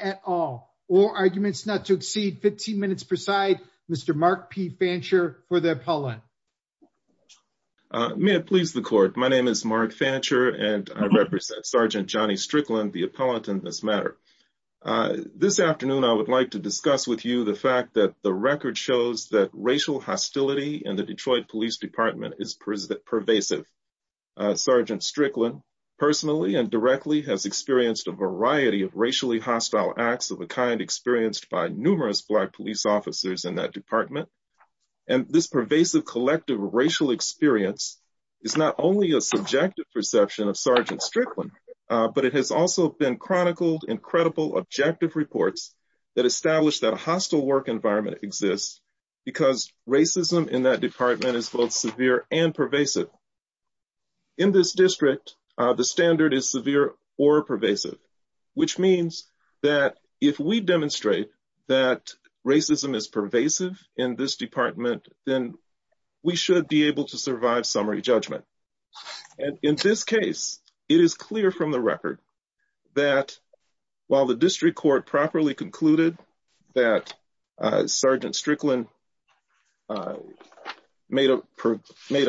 at all or arguments not to exceed 15 minutes per side. Mr. Mark P. Fancher for the appellant. May it please the court. My name is Mark Fancher and I represent Sergeant Johnny Strickland, the appellant in this matter. This afternoon I would like to discuss with you the fact that racial hostility in the Detroit Police Department is pervasive. Sergeant Strickland personally and directly has experienced a variety of racially hostile acts of a kind experienced by numerous black police officers in that department. And this pervasive collective racial experience is not only a subjective perception of Sergeant Strickland, but it has also been chronicled in racism in that department is both severe and pervasive. In this district, the standard is severe or pervasive, which means that if we demonstrate that racism is pervasive in this department, then we should be able to survive summary judgment. And in this case, it is clear from the record that while the district court properly concluded that Sergeant Strickland made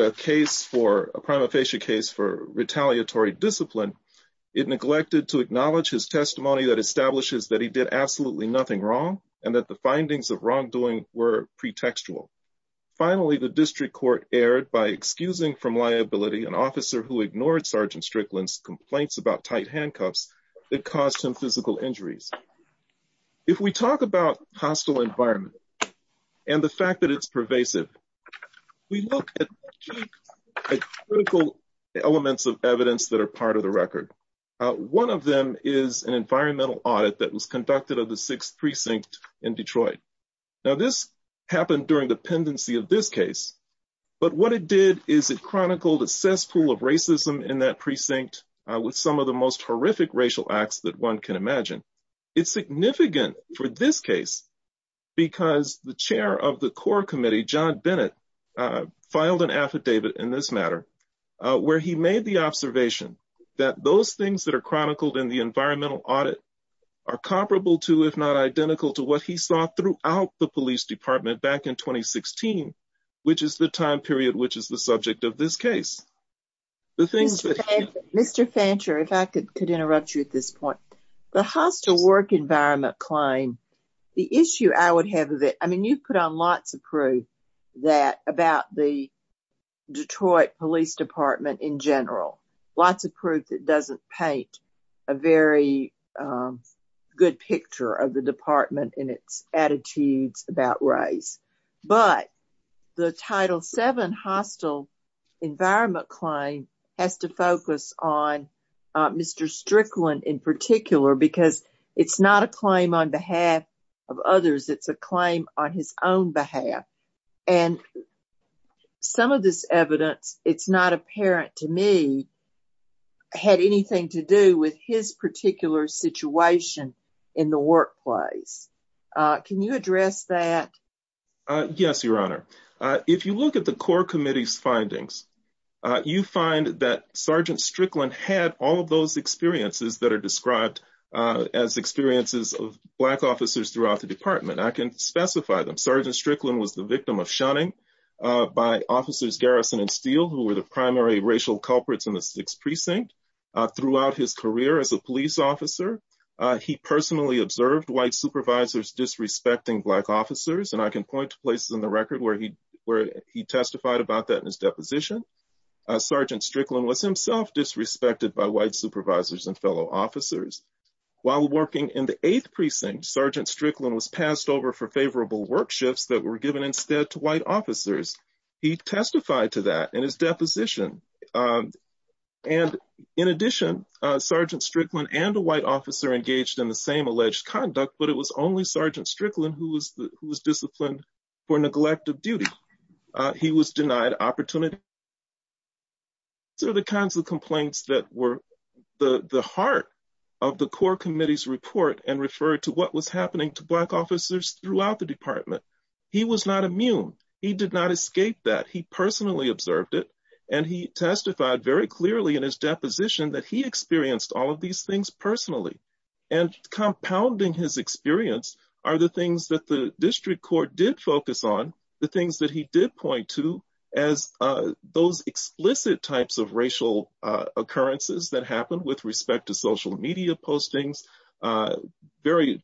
a case for a prima facie case for retaliatory discipline, it neglected to acknowledge his testimony that establishes that he did absolutely nothing wrong and that the findings of wrongdoing were pretextual. Finally, the district court erred by excusing from liability an officer who ignored Sergeant Strickland's complaints about tight handcuffs that caused him physical injuries. If we talk about hostile environment and the fact that it's pervasive, we look at critical elements of evidence that are part of the record. One of them is an environmental audit that was conducted of the sixth precinct in Detroit. Now this happened during the pendency of this case, but what it did is it chronicled a cesspool of racism in that precinct with some of the most horrific racial acts that one can imagine. It's significant for this case because the chair of the core committee, John Bennett, filed an affidavit in this matter where he made the observation that those things that are chronicled in the environmental audit are which is the time period which is the subject of this case. Mr. Fancher, if I could interrupt you at this point, the hostile work environment claim, the issue I would have with it, I mean you put on lots of proof that about the Detroit Police Department in general, lots of proof that doesn't paint a very good picture of the department and its attitudes about race, but the Title VII hostile environment claim has to focus on Mr. Strickland in particular because it's not a claim on behalf of others, it's a claim on his own behalf and some of this evidence, it's not apparent to me, had anything to do with his particular situation in the workplace. Can you address that? Yes, Your Honor. If you look at the core committee's findings, you find that Sergeant Strickland had all of those experiences that are described as experiences of Black officers throughout the department. I can specify them. Sergeant Strickland was the victim of shunning by officers Garrison and Steele who were the primary racial culprits in the 6th Precinct throughout his career as a police officer. He personally observed White supervisors disrespecting Black officers and I can point to places in the record where he testified about that in his deposition. Sergeant Strickland was himself disrespected by White supervisors and fellow officers. While working in the 8th Precinct, Sergeant Strickland was passed over for favorable work shifts that were given instead to White officers. He testified to that in his deposition. In addition, Sergeant Strickland and a White officer engaged in the same alleged conduct, but it was only Sergeant Strickland who was disciplined for neglect of duty. He was denied opportunity. These are the kinds of complaints that were the heart of the core committee's report and referred to what was happening to Black officers throughout the and he testified very clearly in his deposition that he experienced all of these things personally and compounding his experience are the things that the district court did focus on, the things that he did point to as those explicit types of racial occurrences that happened with respect to social media postings, very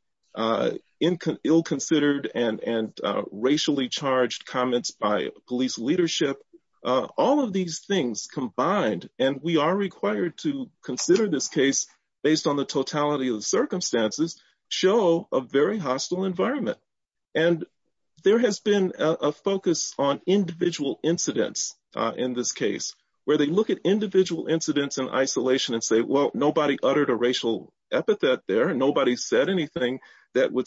ill-considered and racially charged comments by police leadership. All of these things combined, and we are required to consider this case based on the totality of the circumstances, show a very hostile environment. And there has been a focus on individual incidents in this case where they look at individual incidents in isolation and say, well, nobody uttered a racial epithet there, nobody said anything that would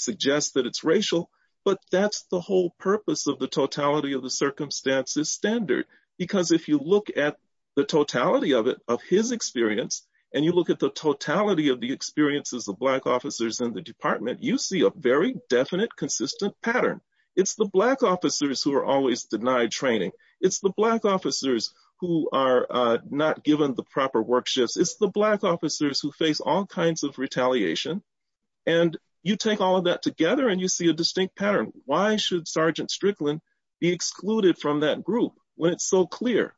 circumstances standard. Because if you look at the totality of it, of his experience, and you look at the totality of the experiences of Black officers in the department, you see a very definite, consistent pattern. It's the Black officers who are always denied training. It's the Black officers who are not given the proper work shifts. It's the Black officers who face all kinds of retaliation. And you take all of that together and you see a distinct pattern. Why should Sergeant Strickland be excluded from that group when it's so clear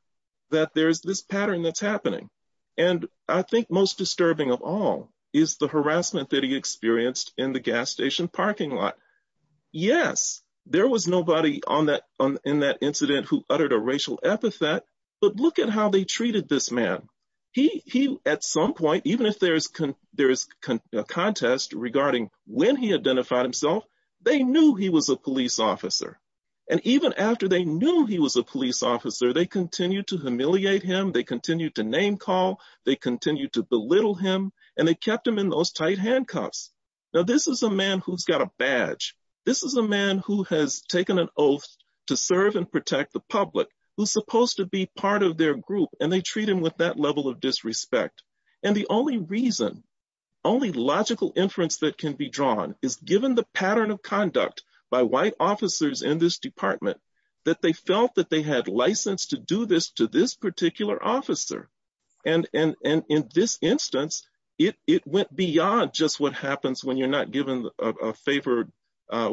that there's this pattern that's happening? And I think most disturbing of all is the harassment that he experienced in the gas station parking lot. Yes, there was nobody in that incident who uttered a racial epithet, but look at how they treated this man. He, at some point, even if there is a contest regarding when he identified himself, they knew he was a police officer. And even after they knew he was a police officer, they continued to humiliate him, they continued to name call, they continued to belittle him, and they kept him in those tight handcuffs. Now this is a man who's got a badge. This is a man who has taken an oath to serve and protect the public, who's supposed to be part of their group, and they treat him with that level of disrespect. And the only reason, only logical inference that can be drawn is given the pattern of conduct by white officers in this department that they felt that they had license to do this to this particular officer. And in this instance, it went beyond just what happens when you're not given a favored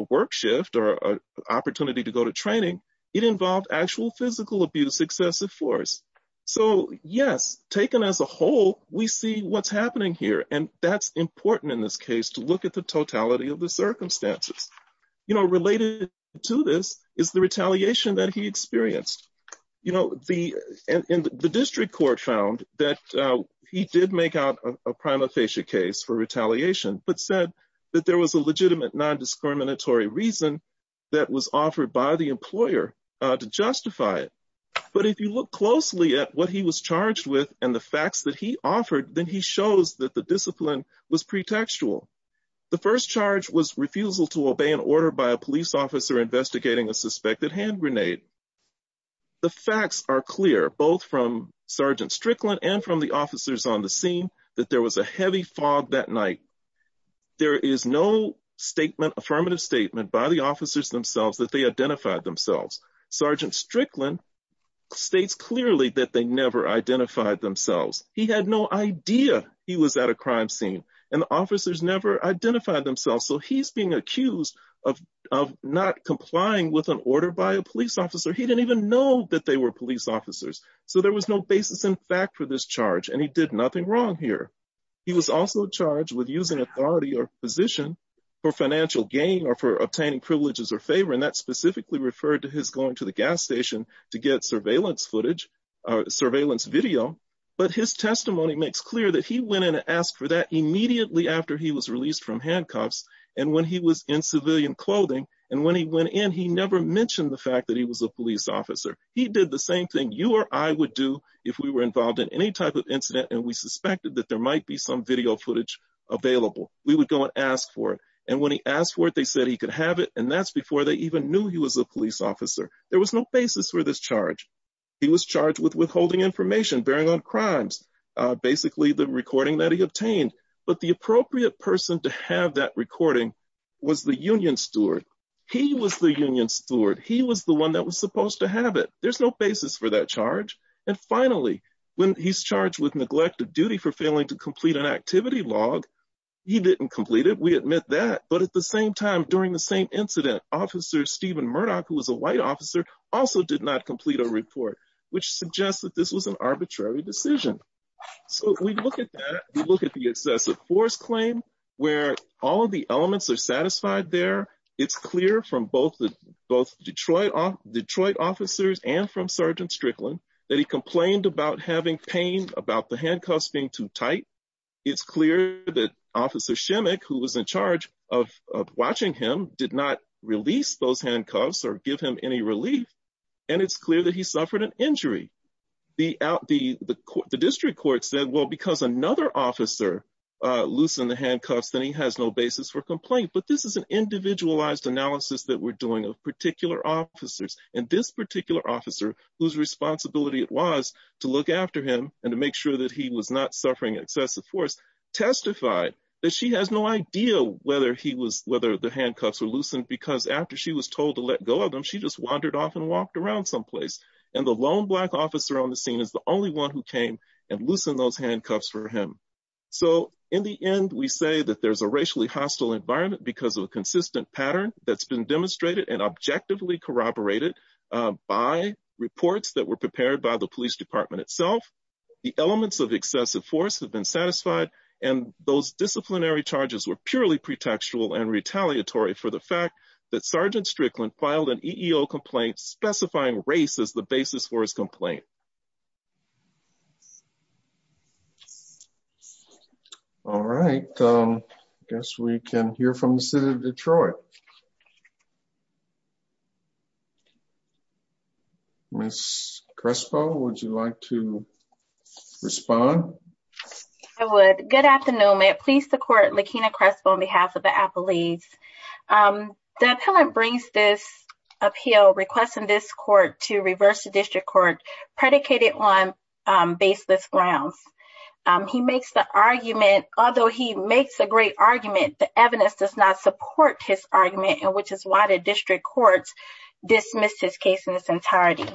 work shift or opportunity to go to training. It involved actual physical abuse, excessive force. So yes, taken as a whole, we see what's happening here. And that's important in this case to look at the totality of the circumstances. You know, related to this is the retaliation that he experienced. You know, the district court found that he did make out a prima facie case for retaliation, but said that there was a legitimate non-discriminatory reason that was offered by the was charged with and the facts that he offered, then he shows that the discipline was pretextual. The first charge was refusal to obey an order by a police officer investigating a suspected hand grenade. The facts are clear, both from Sergeant Strickland and from the officers on the scene, that there was a heavy fog that night. There is no affirmative statement by the officers that they identified themselves. Sergeant Strickland states clearly that they never identified themselves. He had no idea he was at a crime scene and the officers never identified themselves. So he's being accused of not complying with an order by a police officer. He didn't even know that they were police officers. So there was no basis in fact for this charge and he did nothing wrong here. He was also charged with using authority or position for financial gain or for obtaining privileges or favor and that specifically referred to his going to the gas station to get surveillance footage or surveillance video. But his testimony makes clear that he went in and asked for that immediately after he was released from handcuffs and when he was in civilian clothing and when he went in he never mentioned the fact that he was a police officer. He did the same thing you or I would do if we were involved in any type of incident and we suspected that there might be some video footage available. We would go and ask for it and when he asked for it they said he could have it and that's before they even knew he was a police officer. There was no basis for this charge. He was charged with withholding information, bearing on crimes, basically the recording that he obtained. But the appropriate person to have that recording was the union steward. He was the union steward. He was the one that was supposed to have it. There's no basis for that charge and finally when he's charged with neglect of duty for failing to complete an activity log he didn't complete it. We admit that but at the same time during the same incident officer Stephen Murdoch who was a white officer also did not complete a report which suggests that this was an arbitrary decision. So we look at that we look at the excessive force claim where all the elements are satisfied there. It's clear from both the both Detroit officers and from Sergeant Strickland that he complained about having pain about the handcuffs being too tight. It's clear that officer Schimmick who was in charge of watching him did not release those handcuffs or give him any relief and it's clear that he suffered an injury. The district court said well because another officer loosened the handcuffs then he has no basis for complaint but this is an individualized analysis that we're doing of particular officers and this particular officer whose responsibility it was to look after him and to make sure that he was not suffering excessive force testified that she has no idea whether he was whether the handcuffs were loosened because after she was told to let go of them she just wandered off and walked around someplace and the lone black officer on the scene is the only one who came and loosened those handcuffs for him. So in the end we say that there's a racially hostile environment because of a consistent pattern that's been demonstrated and objectively corroborated by reports that were prepared by the police department itself. The elements of excessive force have been satisfied and those disciplinary charges were purely pretextual and retaliatory for the fact that Sergeant Strickland filed an EEO complaint specifying race as the basis for his complaint. All right I guess we can hear from the city of Detroit. Ms. Crespo would you like to respond? I would. Good afternoon may it please the court Laquena Crespo on behalf of the appellees. The appellant brings this appeal requesting this predicated on baseless grounds. He makes the argument although he makes a great argument the evidence does not support his argument and which is why the district courts dismissed his case in its entirety.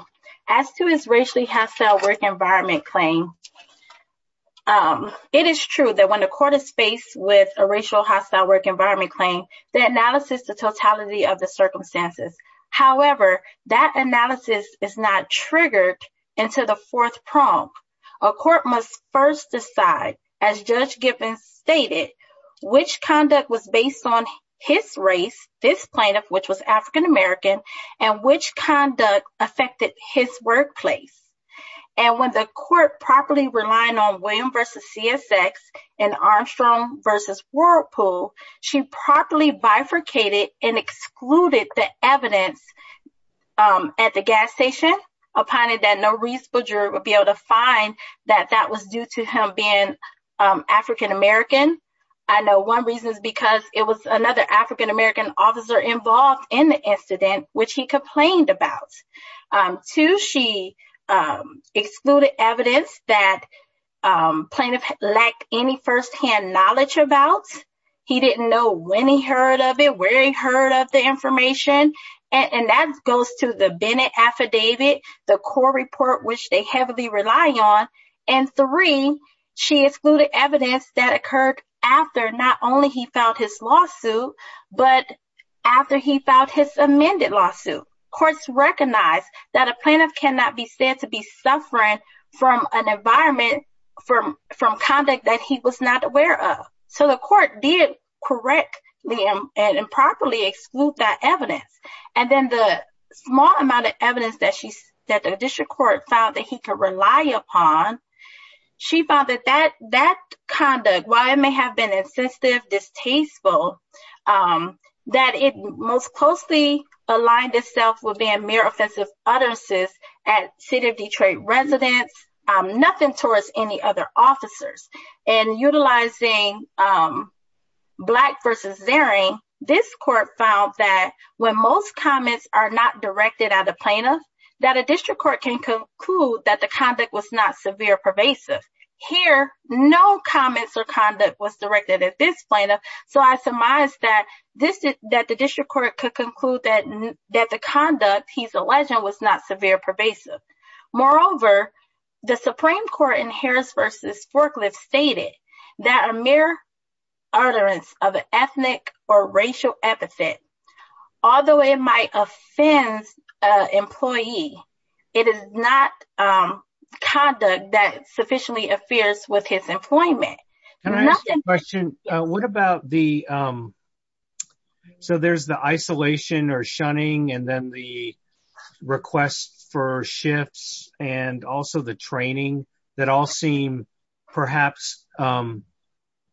As to his racially hostile work environment claim it is true that when the court is faced with a racial hostile work environment claim the analysis the totality of the circumstances. However that analysis is not triggered into the fourth prong. A court must first decide as Judge Giffen stated which conduct was based on his race this plaintiff which was African-American and which conduct affected his workplace. And when the court properly relying on William versus CSX and Armstrong versus Whirlpool she properly bifurcated and excluded the evidence at the gas station opining that no reasonable juror would be able to find that that was due to him being African-American. I know one reason is because it was another African-American officer involved in the incident which he complained about. Two she excluded evidence that plaintiff lacked any first-hand knowledge about. He didn't know when he heard of it where he heard of the information and that goes to the Bennett affidavit the core report which they heavily rely on. And three she excluded evidence that occurred after not only he filed his lawsuit but after he filed his amended lawsuit. Courts recognize that a plaintiff cannot be said to be suffering from an environment from from conduct that he was not aware of. So the court did correctly and improperly exclude that evidence. And then the small amount of evidence that she's that the district court found that he could rely upon she found that that that conduct while it may have been insensitive distasteful that it most closely aligned itself with being mere offensive utterances at city of Detroit residents nothing towards any other officers. And utilizing Black versus Zaring this court found that when most comments are not directed at a plaintiff that a district court can conclude that the conduct was not severe pervasive. Here no comments or conduct was directed at this plaintiff so I surmise that this that the district court could conclude that that the conduct he's the Supreme Court in Harris versus Forklift stated that a mere utterance of an ethnic or racial epithet although it might offend an employee it is not conduct that sufficiently appears with his employment. Can I ask a question what about the so there's the isolation or shunning and then the request for shifts and also the training that all seem perhaps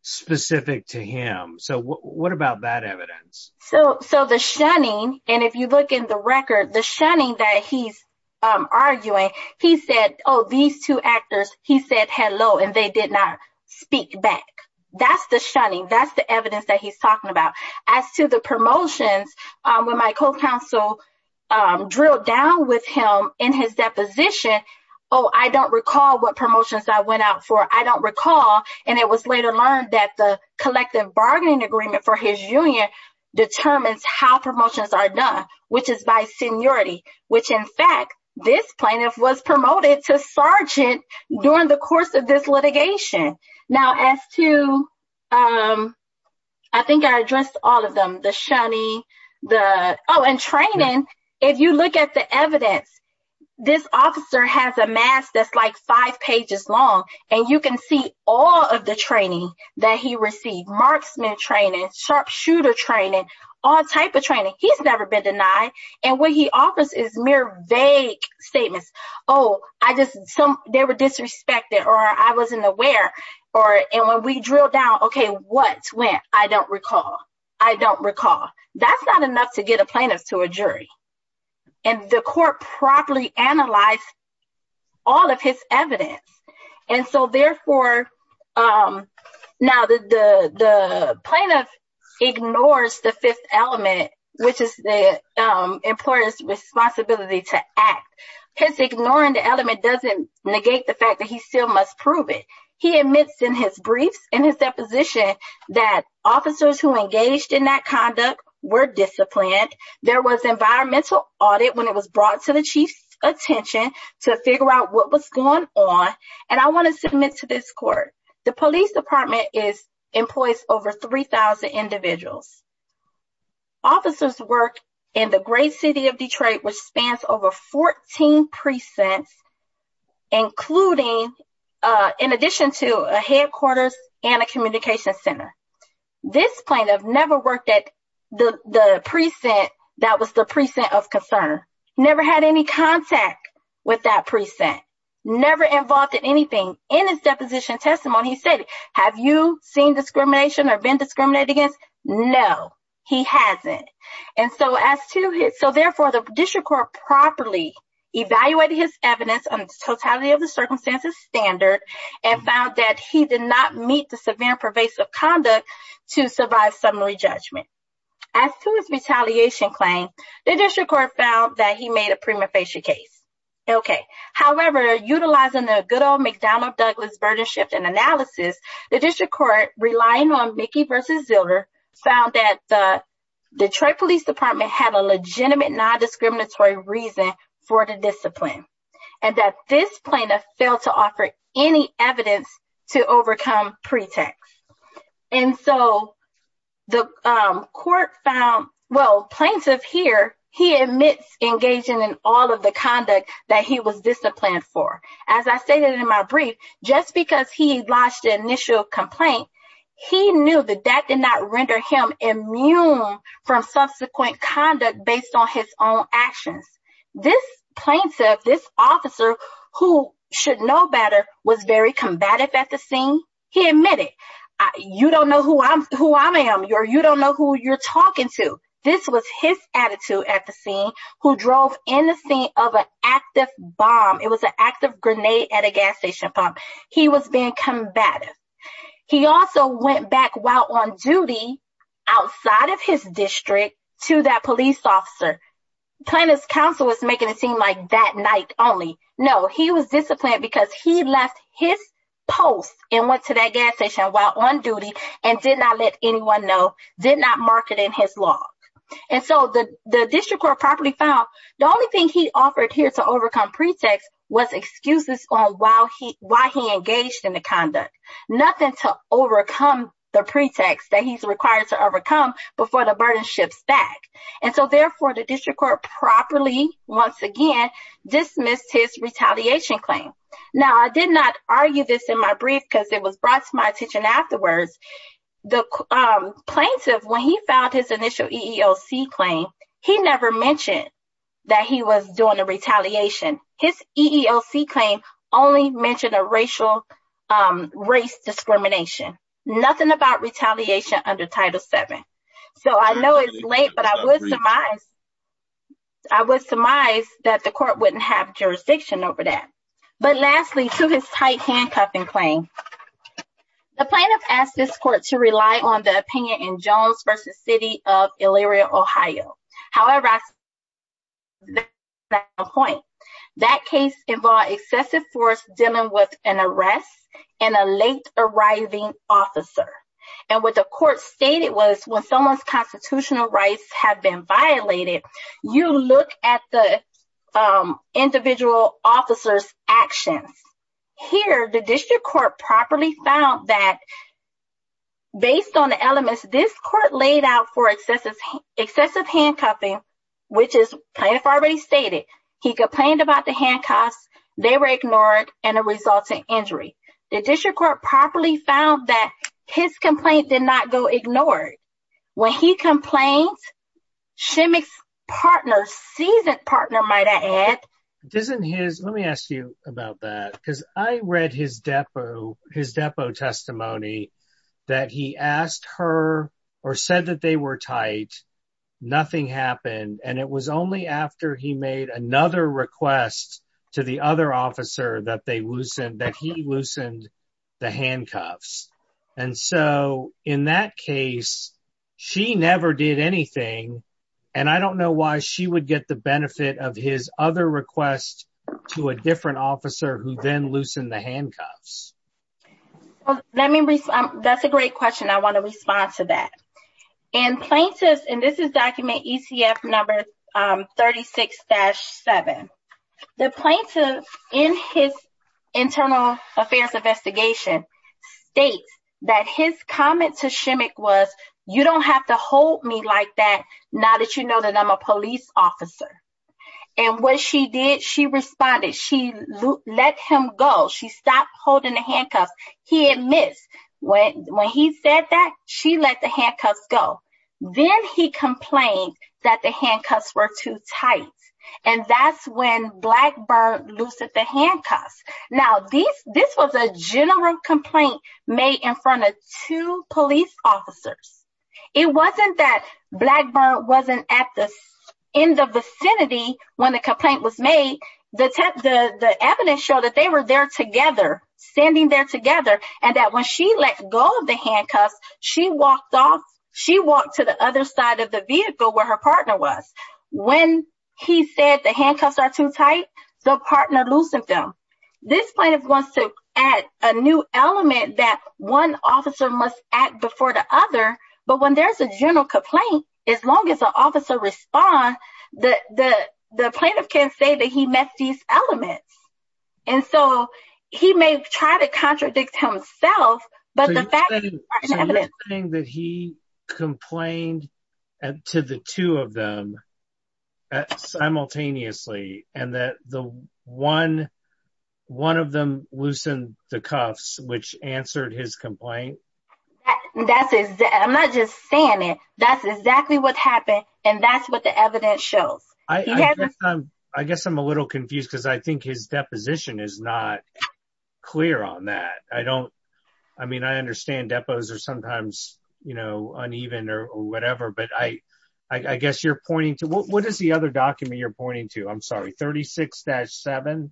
specific to him. So what about that evidence? So the shunning and if you look in the record the shunning that he's arguing he said oh these two actors he said hello and they did not speak back that's the shunning that's the evidence that he's talking about. As to the promotions when my co-counsel drilled down with him in his deposition oh I don't recall what promotions I went out for I don't recall and it was later learned that the collective bargaining agreement for his union determines how promotions are done which is by seniority which in fact this plaintiff was promoted to I think I addressed all of them the shunning the oh and training if you look at the evidence this officer has a mask that's like five pages long and you can see all of the training that he received marksman training sharpshooter training all type of training he's never been denied and what he offers is mere vague statements oh I just some they were disrespected or I wasn't aware or and when we drill down okay what went I don't recall I don't recall that's not enough to get a plaintiff to a jury and the court properly analyzed all of his evidence and so therefore um now the the the plaintiff ignores the fifth element which is the um employer's responsibility to act his ignoring the element doesn't negate the fact that he still must prove it he admits in his briefs in his deposition that officers who engaged in that conduct were disciplined there was environmental audit when it was brought to the chief's attention to figure out what was going on and I want to submit to this court the police department is employs over 3 000 individuals officers work in the great city of Detroit which spans over 14 precincts including uh in addition to a headquarters and a communication center this plaintiff never worked at the the precinct that was the precinct of concern never had any contact with that precinct never involved in anything in his deposition testimony he said have you seen discrimination or been discriminated against no he hasn't and so as to his so therefore the district court properly evaluated his evidence on the totality of the circumstances standard and found that he did not meet the severe pervasive conduct to survive summary judgment as to his retaliation claim the district court found that he made a prima facie case okay however utilizing the good old mcdonald douglas burden shift and found that the detroit police department had a legitimate non-discriminatory reason for the discipline and that this plaintiff failed to offer any evidence to overcome pretext and so the court found well plaintiff here he admits engaging in all of the conduct that he was disciplined for as i stated in my brief just because he launched the initial complaint he knew that that did not render him immune from subsequent conduct based on his own actions this plaintiff this officer who should know better was very combative at the scene he admitted you don't know who i'm who i am you're you don't know who you're talking to this was his attitude at the scene who drove in the scene of an active bomb it was an active grenade at a gas station he was being combative he also went back while on duty outside of his district to that police officer plaintiff's counsel was making it seem like that night only no he was disciplined because he left his post and went to that gas station while on duty and did not let anyone know did not mark it in his log and so the the district court properly found the only thing he offered here to overcome pretext was excuses on while he why he engaged in the conduct nothing to overcome the pretext that he's required to overcome before the burden shifts back and so therefore the district court properly once again dismissed his retaliation claim now i did not argue this in my brief because it was brought to my attention afterwards the plaintiff when he found his initial eeoc claim he never mentioned that he was doing a retaliation his eeoc claim only mentioned a racial um race discrimination nothing about retaliation under title seven so i know it's late but i would surmise i would surmise that the court wouldn't have jurisdiction over that but lastly to his tight handcuffing claim the plaintiff asked this court to rely on the opinion in jones versus city of illyria ohio however that point that case involved excessive force dealing with an arrest and a late arriving officer and what the court stated was when someone's constitutional rights have been violated you look at the um individual officer's actions here the district court properly found that based on the elements this court laid out for excessive excessive handcuffing which is plaintiff already stated he complained about the handcuffs they were ignored and a resulting injury the district court properly found that his complaint did not go ignored when he complained shimmicks partner seasoned partner might i add doesn't his let me ask you about that because i read his depo his depo testimony that he asked her or said that they were tight nothing happened and it was only after he made another request to the other officer that they loosened that he loosened the handcuffs and so in that case she never did anything and i don't know why she would get the benefit of his other request to a different officer who then loosened the handcuffs let me that's a great question i want to respond to that and plaintiffs and this is document ecf number um 36-7 the plaintiff in his internal affairs investigation states that his comment to shimmick was you don't have to hold me like that now that you know that i'm a police officer and what she did she responded she let him go she stopped holding the handcuffs he admits when when he said that she let the handcuffs go then he complained that the handcuffs were too tight and that's when blackburn loosened the handcuffs now these this was a general complaint made in front of two police officers it wasn't that blackburn wasn't at the end of vicinity when the complaint was made the the evidence showed that they were there together standing there together and that when she let go of the handcuffs she walked off she walked to the other side of the vehicle where her partner was when he said the handcuffs are tight the partner loosened them this plaintiff wants to add a new element that one officer must act before the other but when there's a general complaint as long as the officer responds that the the plaintiff can say that he met these elements and so he may try to contradict himself but the fact that he complained to the two of them simultaneously and that the one one of them loosened the cuffs which answered his complaint that's exactly i'm not just saying it that's exactly what happened and that's what the evidence shows i i guess i'm a little confused because i think his deposition is not clear on that i don't i mean i understand depots are sometimes you know uneven or whatever but i i guess you're pointing to what is the other document you're pointing to i'm sorry 36-7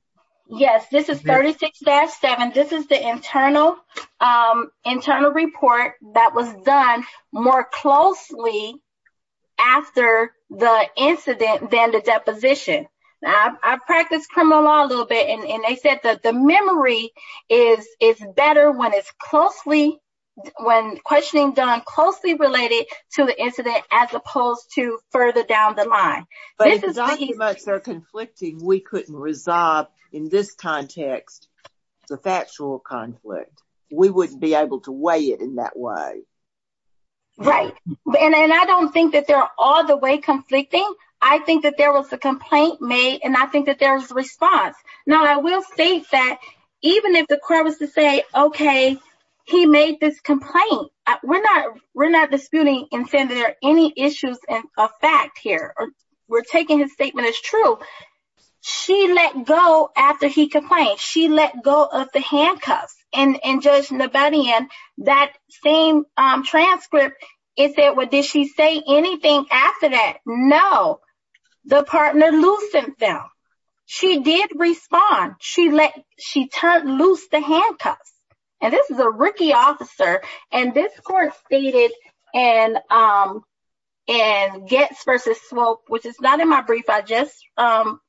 yes this is 36-7 this is the internal um internal report that was done more closely after the incident than the deposition i practiced criminal law a little bit and they said that the memory is is better when it's closely when questioning done closely related to the incident as opposed to further down the line but if documents are conflicting we couldn't resolve in this context the factual conflict we wouldn't be able to weigh in that way right and i don't think that they're all the way conflicting i think that there was a complaint made and i think that there was a response now i will state that even if the court was to say okay he made this complaint we're not we're not disputing and saying there are any issues and a fact here we're taking his statement as true she let go after he complained she let go of the handcuffs and and judge nobody and that same um transcript is that what did she say anything after that no the partner loosened them she did respond she let she turned loose the handcuffs and this is a rookie officer and this court stated and um and gets versus which is not in my brief i just um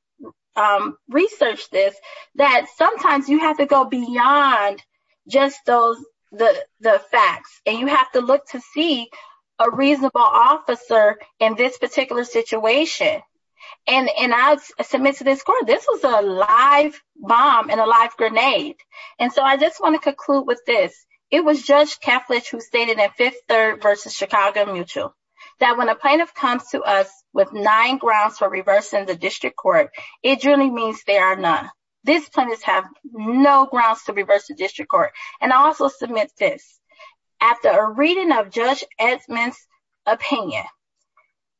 um researched this that sometimes you have to go beyond just those the the facts and you have to look to see a reasonable officer in this particular situation and and i submit to this court this was a live bomb and a live grenade and so i just want to conclude with this it was judge keflich who stated that fifth third versus chicago mutual that when a plaintiff comes to us with nine grounds for reversing the district court it truly means they are none these plaintiffs have no grounds to reverse the district court and also submit this after a reading of judge edmund's opinion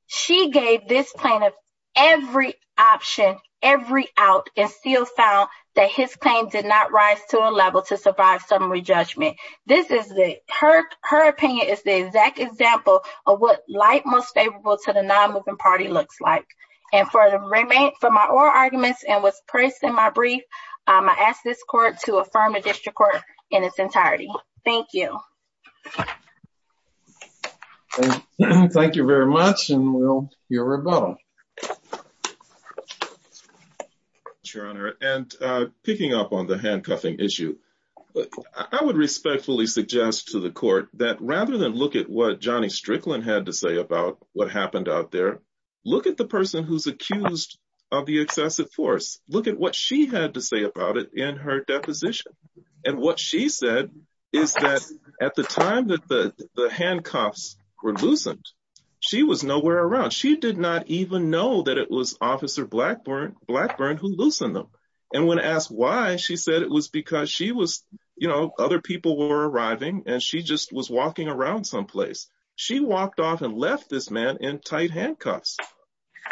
she gave this plaintiff every option every out and still found that his claim did not rise to a level to survive summary judgment this is the her her opinion is the exact example of what light most favorable to the non-moving party looks like and for the remain for my oral arguments and what's placed in my brief um i ask this court to affirm a district court in its entirety thank you thank you very much and we'll hear about them your honor and uh picking up on the handcuffing issue i would respectfully suggest to the court that rather than look at what johnny strickland had to say about what happened out there look at the person who's accused of the excessive force look at what she had to say about it in her deposition and what she said is that at the time that the the handcuffs were loosened she was she did not even know that it was officer blackburn blackburn who loosened them and when asked why she said it was because she was you know other people were arriving and she just was walking around someplace she walked off and left this man in tight handcuffs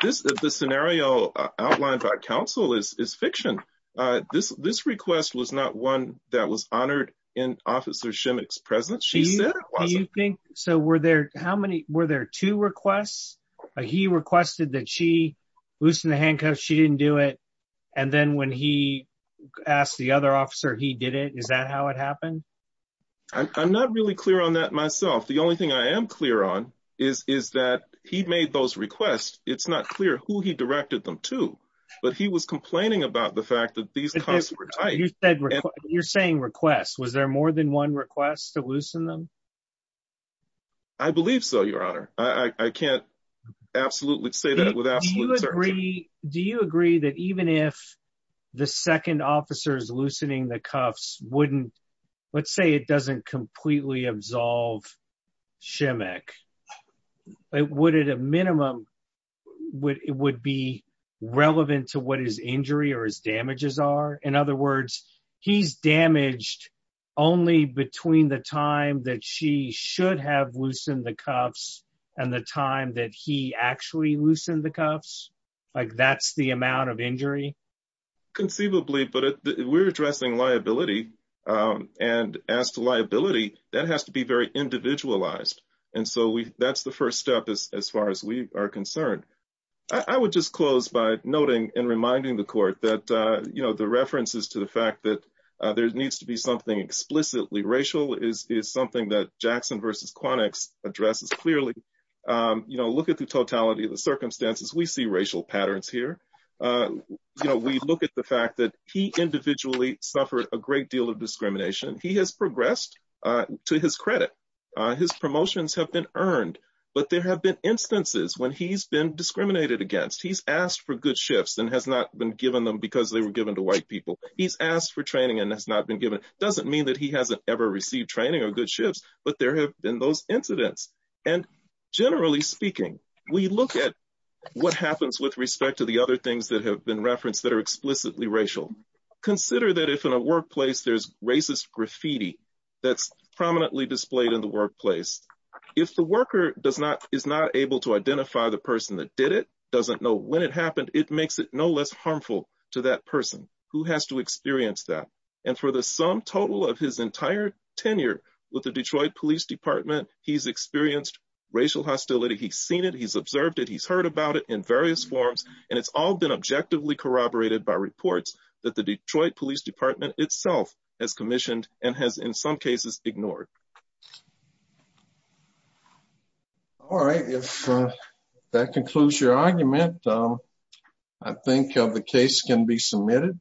this the scenario outlined by council is is fiction uh this this request was not one that was honored in officer two requests he requested that she loosened the handcuffs she didn't do it and then when he asked the other officer he did it is that how it happened i'm not really clear on that myself the only thing i am clear on is is that he made those requests it's not clear who he directed them to but he was complaining about the fact that these guys were tight you said you're saying requests was there more than one request to loosen them i believe so your honor i i can't absolutely say that without you agree do you agree that even if the second officer is loosening the cuffs wouldn't let's say it doesn't completely absolve shimmick it would at a minimum would it would be relevant to what his injury or his damages are in other words he's damaged only between the time that she should have loosened the cuffs and the time that he actually loosened the cuffs like that's the amount of injury conceivably but we're addressing liability um and as to liability that has to be very individualized and so we that's the first step as far as we are concerned i would just close by noting and reminding the court that uh you know the references to the fact that uh there needs to be something explicitly racial is is something that jackson versus quantics addresses clearly um you know look at the totality of the circumstances we see racial patterns here you know we look at the fact that he individually suffered a great deal of discrimination he has progressed uh to his credit uh his promotions have been earned but there have been instances when he's been discriminated against he's asked for good shifts and has not been given them because they were given to white people he's asked for training and has not been given doesn't mean that he hasn't ever received training or good shifts but there have been those incidents and generally speaking we look at what happens with respect to the other things that have been referenced that are explicitly racial consider that if in a workplace there's racist graffiti that's prominently displayed in the workplace if the worker does not is not able to identify the person that did it doesn't know when it happened it makes it no less harmful to that person who has to experience that and for the sum total of his entire tenure with the detroit police department he's experienced racial hostility he's seen it he's observed it he's heard about it in various forms and it's all been objectively corroborated by reports that the detroit police department itself has commissioned and has in some cases ignored all right if that concludes your argument i think of the case can be submitted